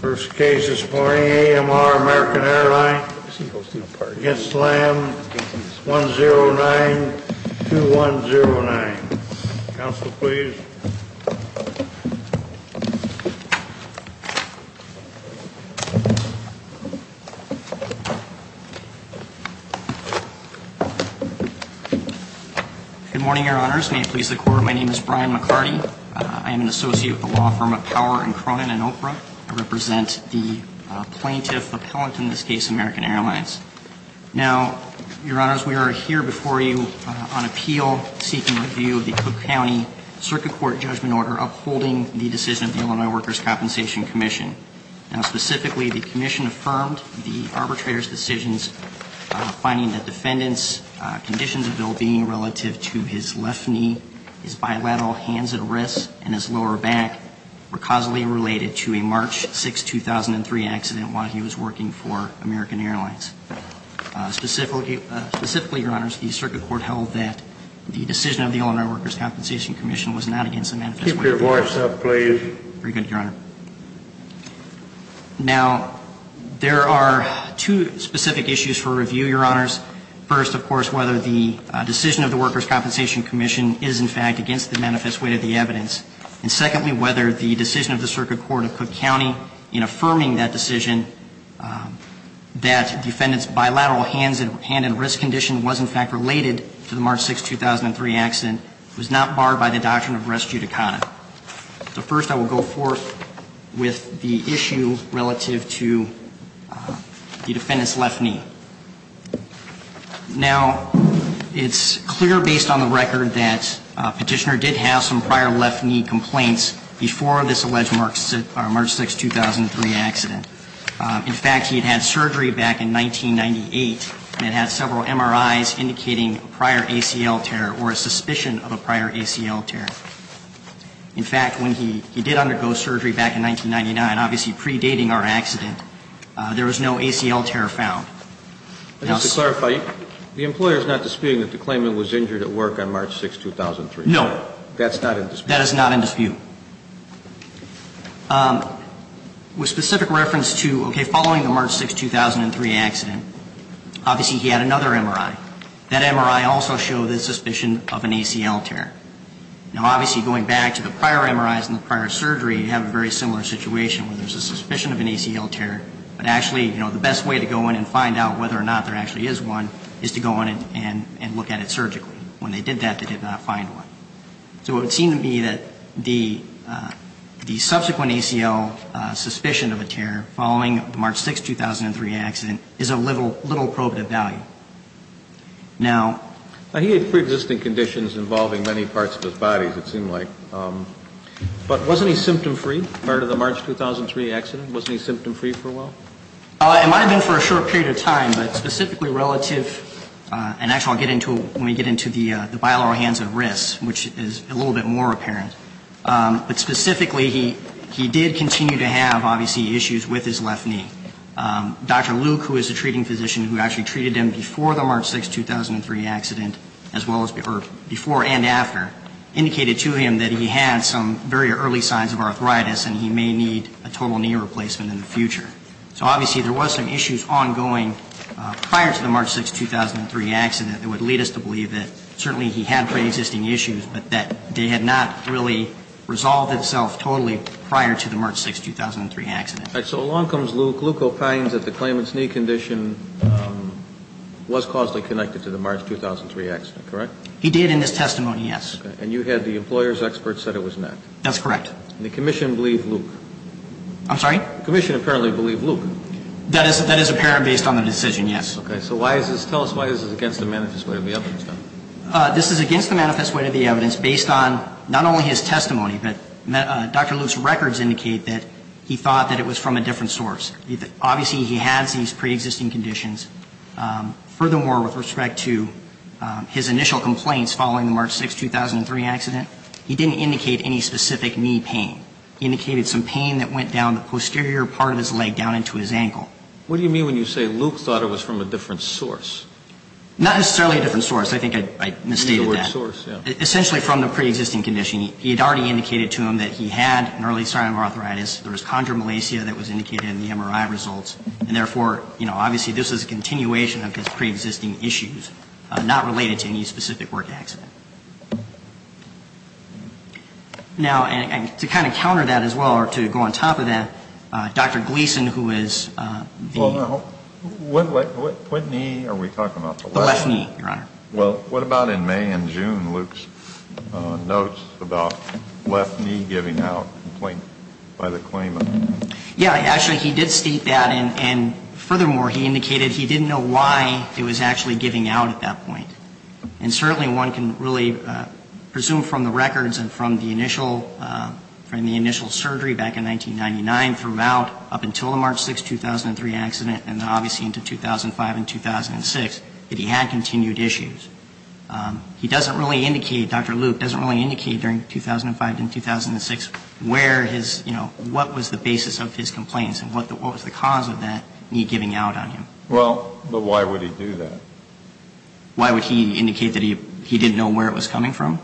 First case this morning, AMR-American Airlines against LAM 109-2109. Counsel, please. Good morning, Your Honors. May it please the Court, my name is Brian McCarty. I am an attorney. I represent the plaintiff appellant in this case, AMR-American Airlines. Now, Your Honors, we are here before you on appeal seeking review of the Cook County Circuit Court Judgment Order upholding the decision of the Illinois Workers' Compensation Commission. Now, specifically, the commission affirmed the arbitrator's decisions finding that defendant's conditions of ill-being relative to his left knee, his bilateral hands and wrists, and his lower back were causally related to a March 6, 2003, accident while he was working for American Airlines. Specifically, Your Honors, the Circuit Court held that the decision of the Illinois Workers' Compensation Commission was not against the manifest weight of the evidence. Keep your voice up, please. Very good, Your Honor. Now, there are two specific issues for review, Your Honors. First, of course, whether the decision of the Workers' Compensation Commission is, in fact, against the manifest weight of the evidence. And secondly, whether the decision of the Circuit Court of Cook County in affirming that decision that defendant's bilateral hands and wrist condition was, in fact, related to the March 6, 2003, accident was not barred by the doctrine of res judicata. So first, I will go forth with the issue relative to the defendant's left knee. Now, it's clear based on the record that Petitioner did have some prior left knee complaints before this alleged March 6, 2003, accident. In fact, he had had surgery back in 1998 and had several MRIs indicating a prior ACL tear or a suspicion of a prior ACL tear. In fact, when he did undergo surgery back in 1999, obviously predating our accident, there was no ACL tear found. Now, to clarify, the employer is not disputing that the claimant was injured at work on March 6, 2003? No. That's not in dispute? That is not in dispute. With specific reference to, okay, following the March 6, 2003, accident, obviously he had another MRI. That MRI also showed a suspicion of an ACL tear. Now, obviously going back to the prior MRIs and the prior surgery, you have a very similar situation where there's a suspicion of an ACL tear, but actually the best way to go in and find out whether or not there actually is one is to go in and look at it surgically. When they did that, they did not find one. So it would seem to me that the subsequent ACL suspicion of a tear following the March 6, 2003, accident is of little probative value. Now he had preexisting conditions involving many parts of his body, it seemed like. But wasn't he symptom-free prior to the March 2003 accident? Wasn't he symptom-free for a while? It might have been for a short period of time, but specifically relative, and actually I'll get into it when we get into the bilateral hands and wrists, which is a little bit more apparent. But specifically, he did continue to have, obviously, issues with his left knee. Dr. Luke, who is a treating physician who actually treated him before the March 6, 2003, accident, as well as before and after, indicated to him that he had some very early signs of arthritis and he may need a total knee replacement in the future. So obviously there was some issues ongoing prior to the March 6, 2003, accident that would lead us to believe that certainly he had preexisting issues, but that they had not really resolved itself totally prior to the March 6, 2003, accident. All right. So along comes Luke. Luke opines that the claimant's knee condition was causally connected to the March 2003, accident, correct? He did in his testimony, yes. And you had the employer's expert said it was an act? That's correct. And the commission believed Luke? I'm sorry? The commission apparently believed Luke? That is apparent based on the decision, yes. Okay. So why is this, tell us why this is against the manifest way of the evidence, then? This is against the manifest way of the evidence based on not only his testimony, but Dr. Luke's records indicate that he thought that it was from a different source. Obviously he has these preexisting conditions. Furthermore, with respect to his initial complaints following the March 6, 2003, accident, he didn't indicate any specific knee pain. He indicated some pain that went down the posterior part of his leg down into his ankle. What do you mean when you say Luke thought it was from a different source? Not necessarily a different source. I think I misstated that. A newer source, yes. Essentially from the preexisting condition. He had already indicated to him that he had an early sign of arthritis. There was chondromalacia that was indicated in the MRI results, and therefore, you know, obviously this is a continuation of his preexisting issues, not related to any specific work accident. Now, and to kind of counter that as well, or to go on top of that, Dr. Gleason, who is the – Well, now, what knee are we talking about? The left knee, Your Honor. Well, what about in May and June, Luke's notes about left knee giving out complaint by the claimant? Yeah. Actually, he did state that, and furthermore, he indicated he didn't know why it was actually giving out at that point. And certainly one can really presume from the records and from the initial, from the initial surgery back in 1999 throughout up until the March 6, 2003 accident, and then obviously into 2005 and 2006, that he had continued issues. He doesn't really indicate, Dr. Luke doesn't really indicate during 2005 and 2006 where his, you know, what was the basis of his complaints and what was the cause of that knee giving out on him. Well, but why would he do that? Why would he indicate that he didn't know where it was coming from?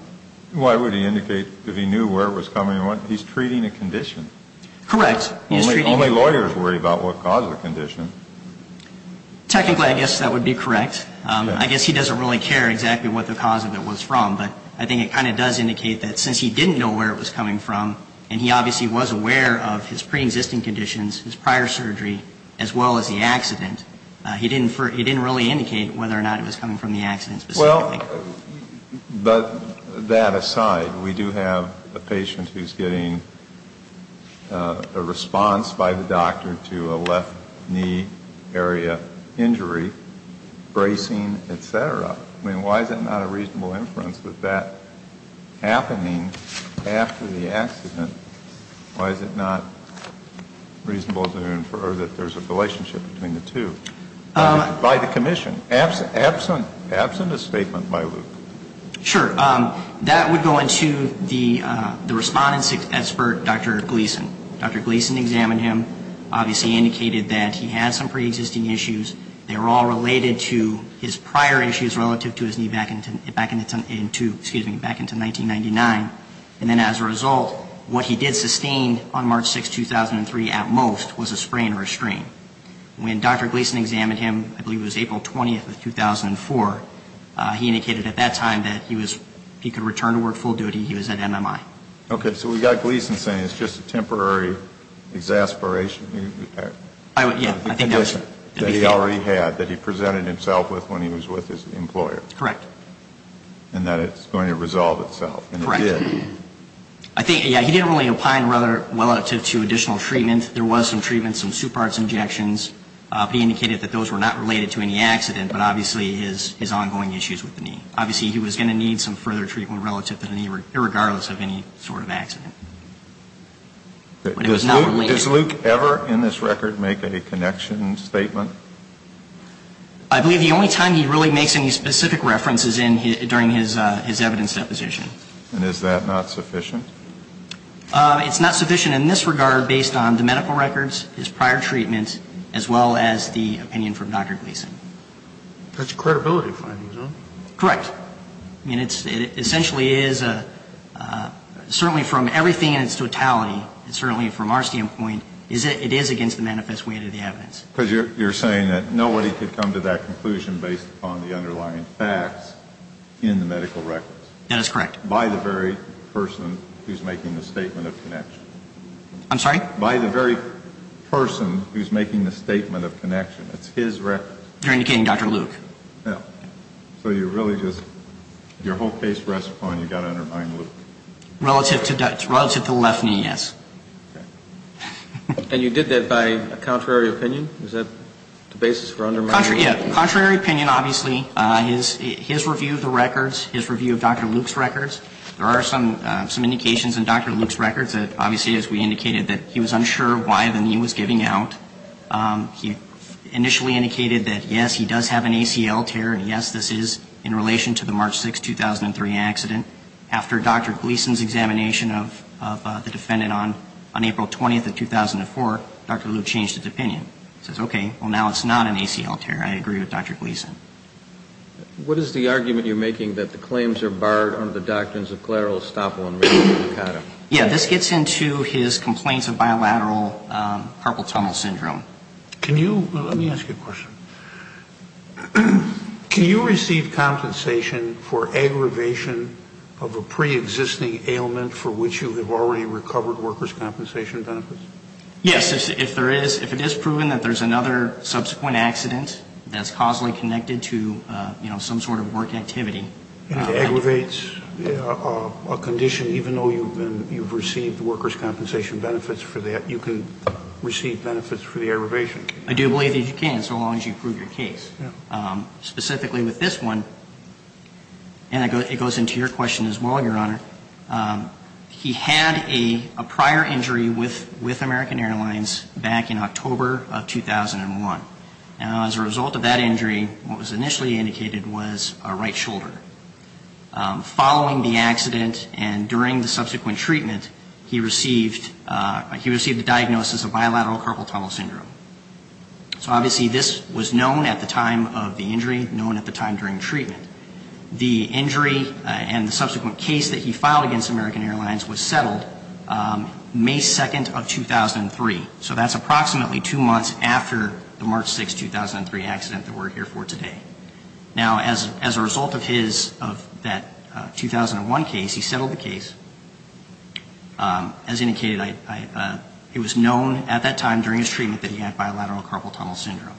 Why would he indicate that he knew where it was coming from? He's treating a condition. Correct. Only lawyers worry about what caused the condition. Technically, I guess that would be correct. I guess he doesn't really care exactly what the cause of it was from. But I think it kind of does indicate that since he didn't know where it was coming from, and he obviously was aware of his preexisting conditions, his prior surgery, as well as the accident, he didn't really indicate whether or not it was coming from the accident specifically. Well, but that aside, we do have a patient who's getting a response by the doctor to the left knee area injury, bracing, et cetera. I mean, why is it not a reasonable inference that that happening after the accident, why is it not reasonable to infer that there's a relationship between the two by the commission, absent a statement by Luke? Sure. That would go into the respondent expert, Dr. Gleason. Dr. Gleason examined him, obviously indicated that he had some preexisting issues. They were all related to his prior issues relative to his knee back into 1999. And then as a result, what he did sustain on March 6, 2003, at most, was a sprain or a strain. When Dr. Gleason examined him, I believe it was April 20th of 2004, he indicated at that time that he was, he could return to work full duty, he was at MMI. Okay. So we've got Gleason saying it's just a temporary exasperation that he already had, that he presented himself with when he was with his employer. Correct. And that it's going to resolve itself. Correct. And it did. I think, yeah, he didn't really opine rather well to additional treatment. There was some treatment, some suparts injections, but he indicated that those were not related to any accident, but obviously his ongoing issues with the knee. Obviously he was going to need some further treatment relative to any, irregardless of any sort of accident. But it was not related. Does Luke ever in this record make a connection statement? I believe the only time he really makes any specific reference is during his evidence deposition. And is that not sufficient? It's not sufficient in this regard based on the medical records, his prior treatment, as well as the opinion from Dr. Gleason. That's a credibility finding, is it? Correct. I mean, it essentially is a, certainly from everything in its totality, and certainly from our standpoint, it is against the manifest weight of the evidence. Because you're saying that nobody could come to that conclusion based upon the underlying facts in the medical records. That is correct. By the very person who's making the statement of connection. I'm sorry? By the very person who's making the statement of connection. It's his records. You're indicating Dr. Luke. Yeah. So you really just, your whole case rests upon you got to undermine Luke. Relative to left knee, yes. Okay. And you did that by contrary opinion? Is that the basis for undermining Luke? Yeah. Contrary opinion, obviously. His review of the records, his review of Dr. Luke's records, there are some indications in Dr. Luke's records that obviously, as we indicated, that he was unsure why the knee was giving out. He initially indicated that, yes, he does have an ACL tear, and yes, this is in relation to the March 6, 2003 accident. After Dr. Gleason's examination of the defendant on April 20th of 2004, Dr. Luke changed his opinion. He says, okay, well, now it's not an ACL tear. I agree with Dr. Gleason. What is the argument you're making that the claims are barred under the doctrines of collateral estoppel and reticulatum? Yeah. This gets into his complaints of bilateral carpal tunnel syndrome. Can you, let me ask you a question. Can you receive compensation for aggravation of a preexisting ailment for which you have already recovered workers' compensation benefits? Yes. If there is, if it is proven that there's another subsequent accident that's causally connected to, you know, some sort of work activity. And it aggravates a condition, even though you've received workers' compensation benefits for that, you can receive benefits for the aggravation. I do believe that you can, so long as you prove your case. Specifically with this one, and it goes into your question as well, Your Honor, he had a prior injury with American Airlines back in October of 2001. And as a result of that injury, what was initially indicated was a right shoulder. Following the accident and during the subsequent treatment, he received, he received a diagnosis of bilateral carpal tunnel syndrome. So obviously this was known at the time of the injury, known at the time during treatment. The injury and the subsequent case that he filed against American Airlines was settled May 2nd of 2003. So that's approximately two months after the March 6, 2003 accident that we're here for today. Now, as a result of his, of that 2001 case, he settled the case. As indicated, it was known at that time during his treatment that he had bilateral carpal tunnel syndrome.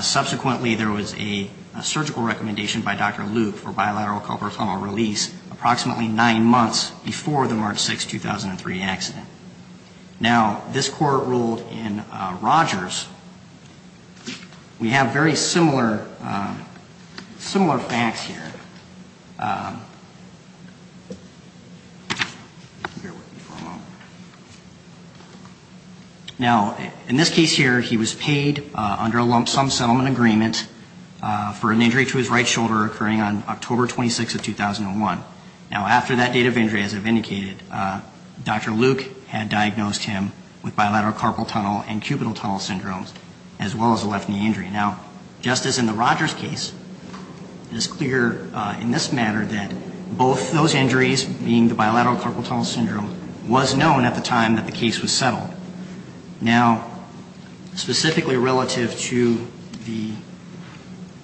Subsequently, there was a surgical recommendation by Dr. Luke for bilateral carpal tunnel release approximately nine months before the March 6, 2003 accident. Now, this court ruled in Rogers, we have very similar, similar facts here. Now, in this case here, he was paid under a lump sum settlement agreement for an injury to his right shoulder occurring on October 26th of 2001. Now, after that date of injury, as I've indicated, Dr. Luke had diagnosed him with bilateral carpal tunnel and cubital tunnel syndromes, as well as a left knee injury. Now, just as in the Rogers case, it is clear in this manner that both those injuries, being the bilateral carpal tunnel syndrome, was known at the time that the case was settled. Now, specifically relative to the...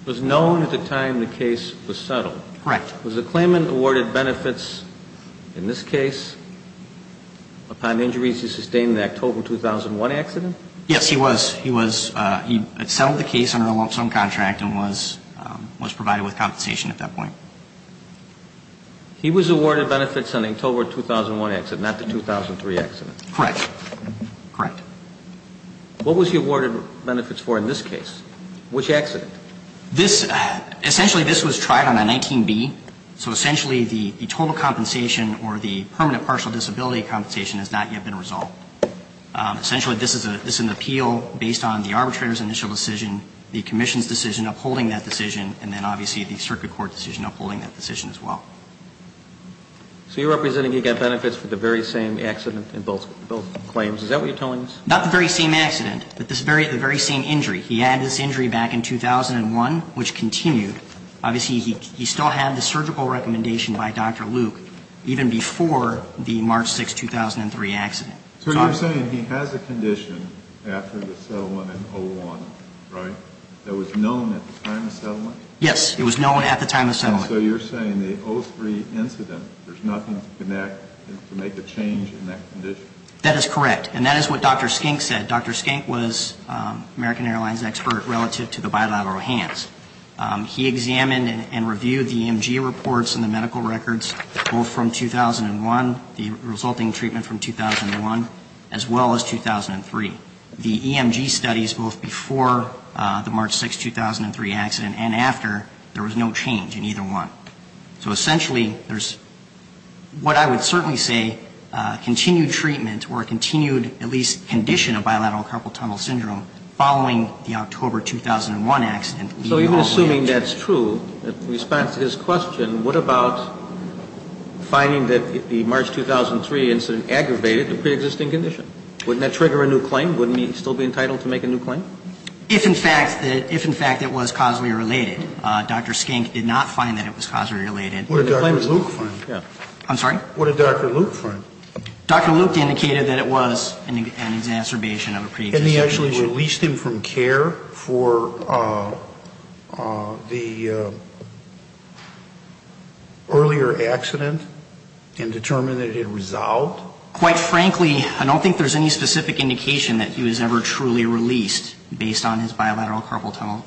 Was known at the time the case was settled. Correct. Was the claimant awarded benefits in this case upon injuries he sustained in the October 2001 accident? Yes, he was. He was, he had settled the case under a lump sum contract and was, was provided with compensation at that point. He was awarded benefits on the October 2001 accident, not the 2003 accident. Correct. Correct. What was he awarded benefits for in this case? Which accident? This, essentially this was tried on a 19B. So essentially the total compensation or the permanent partial disability compensation has not yet been resolved. Essentially this is an appeal based on the arbitrator's initial decision, the commission's decision upholding that decision, and then obviously the circuit court decision upholding that decision as well. So you're representing he got benefits for the very same accident in both claims. Is that what you're telling us? Not the very same accident, but the very same injury. He had this injury back in 2001, which continued. Obviously he still had the surgical recommendation by Dr. Luke even before the March 6, 2003 accident. So you're saying he has a condition after the settlement in 01, right, that was known at the time of settlement? Yes, it was known at the time of settlement. So you're saying the 03 incident, there's nothing to connect, to make a change in that condition? That is correct. And that is what Dr. Skink said. Dr. Skink was American Airlines expert relative to the bilateral hands. He examined and reviewed the EMG reports and the medical records both from 2001, the resulting treatment from 2001, as well as 2003. The EMG studies both before the March 6, 2003 accident and after, there was no change in either one. So essentially there's what I would certainly say continued treatment or continued at least condition of bilateral carpal tunnel syndrome following the October 2001 accident. So even assuming that's true, in response to his question, what about finding that the March 2003 incident aggravated the preexisting condition? Wouldn't that trigger a new claim? Wouldn't he still be entitled to make a new claim? If in fact it was causally related. Dr. Skink did not find that it was causally related. What did Dr. Luke find? I'm sorry? What did Dr. Luke find? Dr. Luke indicated that it was an exacerbation of a preexisting condition. And he actually released him from care for the earlier accident and determined that it had resolved? Quite frankly, I don't think there's any specific indication that he was ever truly released based on his bilateral carpal tunnel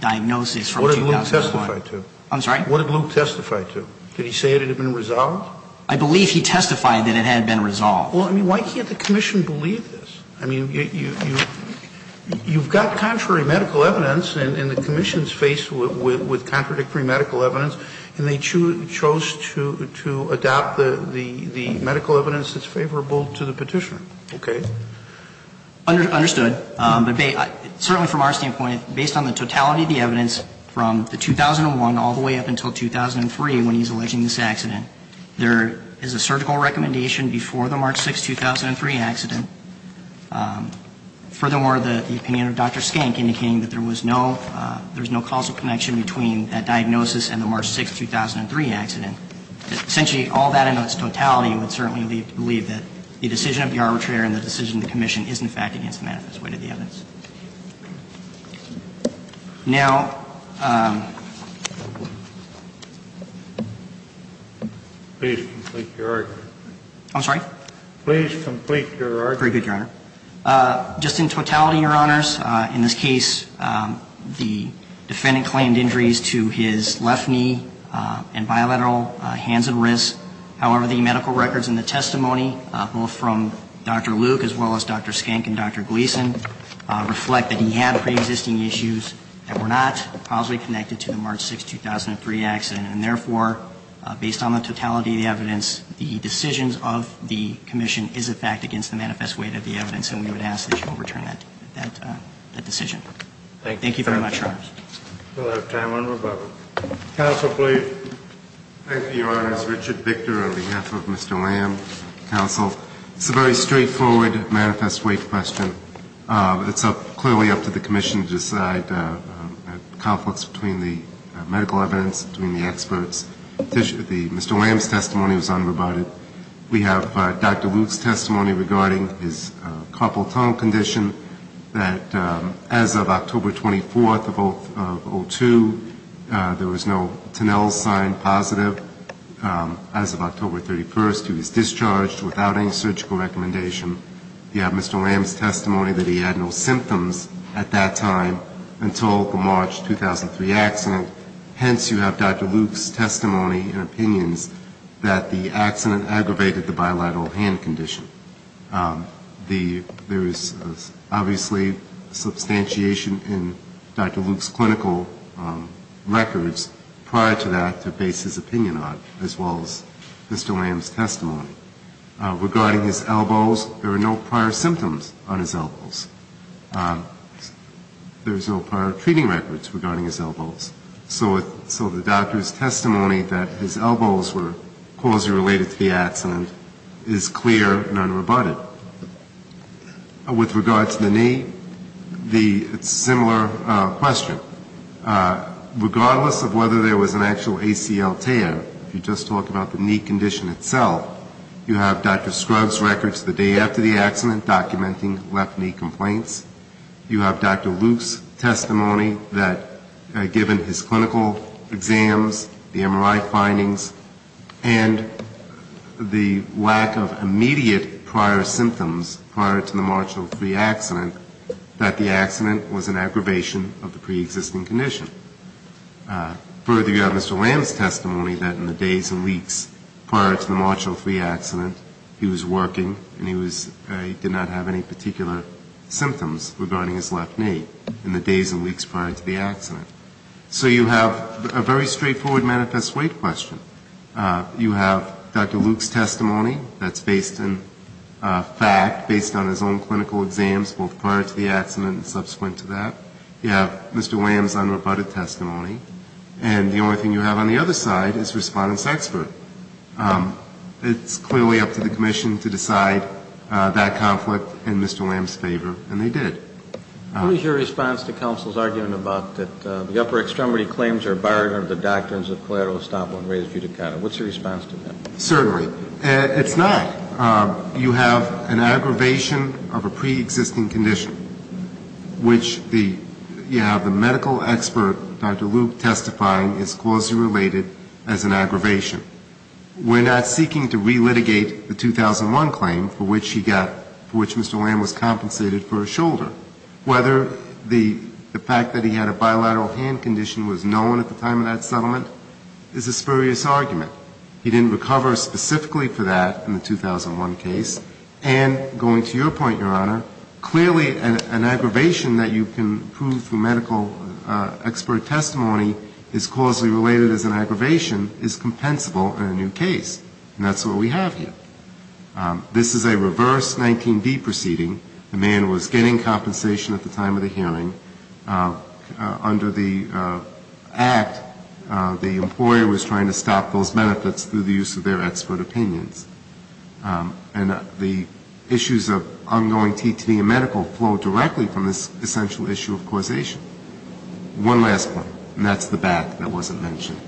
diagnosis from 2001. What did Luke testify to? I'm sorry? What did Luke testify to? Did he say it had been resolved? I believe he testified that it had been resolved. Well, I mean, why can't the Commission believe this? I mean, you've got contrary medical evidence, and the Commission's faced with contradictory medical evidence, and they chose to adopt the medical evidence that's favorable to the Petitioner. Okay? Understood. Certainly from our standpoint, based on the totality of the evidence from the 2001 all the way up until 2003 when he's alleging this accident, there is a surgical recommendation before the March 6, 2003 accident. Furthermore, the opinion of Dr. Skank indicating that there was no causal connection between that diagnosis and the March 6, 2003 accident. Essentially, all that in its totality would certainly lead to believe that the decision of the arbitrator and the decision of the Commission is, in fact, against the manifest way to the evidence. Now ---- Please complete your argument. I'm sorry? Please complete your argument. Very good, Your Honor. Just in totality, Your Honors, in this case, the defendant claimed injuries to his left knee and bilateral hands and wrists. However, the medical records in the testimony, both from Dr. Luke as well as Dr. Skank and Dr. Gleeson, reflect that he had preexisting issues that were not causally connected to the March 6, 2003 accident. And therefore, based on the totality of the evidence, the decisions of the Commission is, in fact, against the manifest way to the evidence. And we would ask that you overturn that decision. Thank you very much, Your Honors. We'll have time one more moment. Counsel, please. Thank you, Your Honors. Richard Victor on behalf of Mr. Lamb, counsel. It's a very straightforward manifest way question. It's clearly up to the Commission to decide conflicts between the medical evidence, between the experts. Mr. Lamb's testimony was unrebutted. We have Dr. Luke's testimony regarding his carpal tunnel condition, that as of October 24th of 2002, there was no Tonell's sign positive. As of October 31st, he was discharged without any surgical recommendation. You have Mr. Lamb's testimony that he had no symptoms at that time until the March 2003 accident. Hence, you have Dr. Luke's testimony and opinions that the accident aggravated the bilateral hand condition. There is obviously substantiation in Dr. Luke's clinical records prior to that to Mr. Lamb's testimony. Regarding his elbows, there were no prior symptoms on his elbows. There's no prior treating records regarding his elbows. So the doctor's testimony that his elbows were causally related to the accident is clear and unrebutted. With regard to the knee, it's a similar question. So regardless of whether there was an actual ACL tear, if you just talk about the knee condition itself, you have Dr. Scruggs' records the day after the accident documenting left knee complaints. You have Dr. Luke's testimony that given his clinical exams, the MRI findings, and the lack of immediate prior symptoms prior to the March 2003 accident, that the condition. Further, you have Mr. Lamb's testimony that in the days and weeks prior to the March 2003 accident, he was working and he did not have any particular symptoms regarding his left knee in the days and weeks prior to the accident. So you have a very straightforward manifest weight question. You have Dr. Luke's testimony that's based in fact, based on his own clinical exams both prior to the accident and subsequent to that. You have Mr. Lamb's unrebutted testimony. And the only thing you have on the other side is Respondent Sexford. It's clearly up to the commission to decide that conflict in Mr. Lamb's favor, and they did. What is your response to counsel's argument about that the upper extremity claims are a barrier to the doctrines of collateral estoppel and res judicata? What's your response to that? Certainly. It's not. You have an aggravation of a preexisting condition, which the, you have the medical expert, Dr. Luke, testifying it's closely related as an aggravation. We're not seeking to relitigate the 2001 claim for which he got, for which Mr. Lamb was compensated for a shoulder. Whether the fact that he had a bilateral hand condition was known at the time of that settlement is a spurious argument. He didn't recover specifically for that in the 2001 case, and going to your point, Your Honor, clearly an aggravation that you can prove through medical expert testimony is closely related as an aggravation is compensable in a new case. And that's what we have here. This is a reverse 19D proceeding. The man was getting compensation at the time of the hearing. Under the act, the employer was trying to stop those benefits through the use of their expert opinions. And the issues of ongoing TTA medical flow directly from this essential issue of causation. One last point, and that's the back that wasn't mentioned.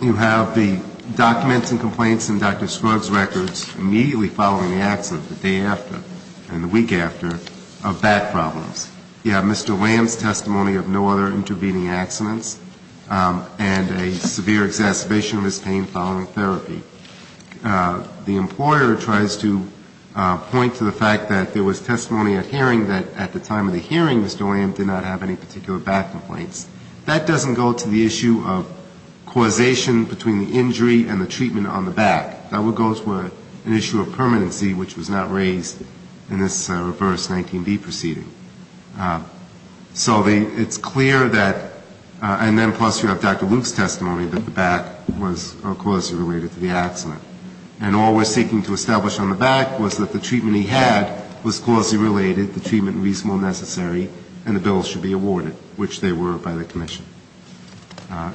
You have the documents and complaints in Dr. Scruggs' records immediately following the accident, the day after and the week after, of back problems. You have Mr. Lamb's testimony of no other intervening accidents and a severe exacerbation of his pain following therapy. The employer tries to point to the fact that there was testimony at hearing that at the time of the hearing, Mr. Lamb did not have any particular back complaints. That doesn't go to the issue of causation between the injury and the treatment on the back. That would go to an issue of permanency, which was not raised in this reverse 19B proceeding. So it's clear that, and then plus you have Dr. Luke's testimony that the back was causally related to the accident. And all we're seeking to establish on the back was that the treatment he had was causally related, the treatment reasonable and necessary, and the bill should be awarded, which they were by the commission.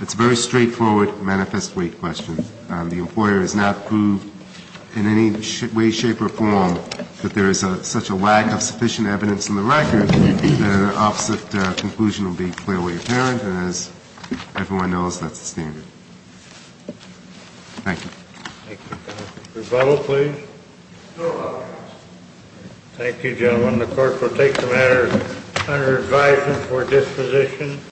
It's a very straightforward manifest weight question. The employer has not proved in any way, shape or form that there is such a lack of sufficient evidence in the record. The opposite conclusion will be clearly apparent. And as everyone knows, that's the standard. Thank you. Thank you, counsel. Rebuttal, please. No rebuttal. Thank you, gentlemen. The court will take the matter under advisement for disposition.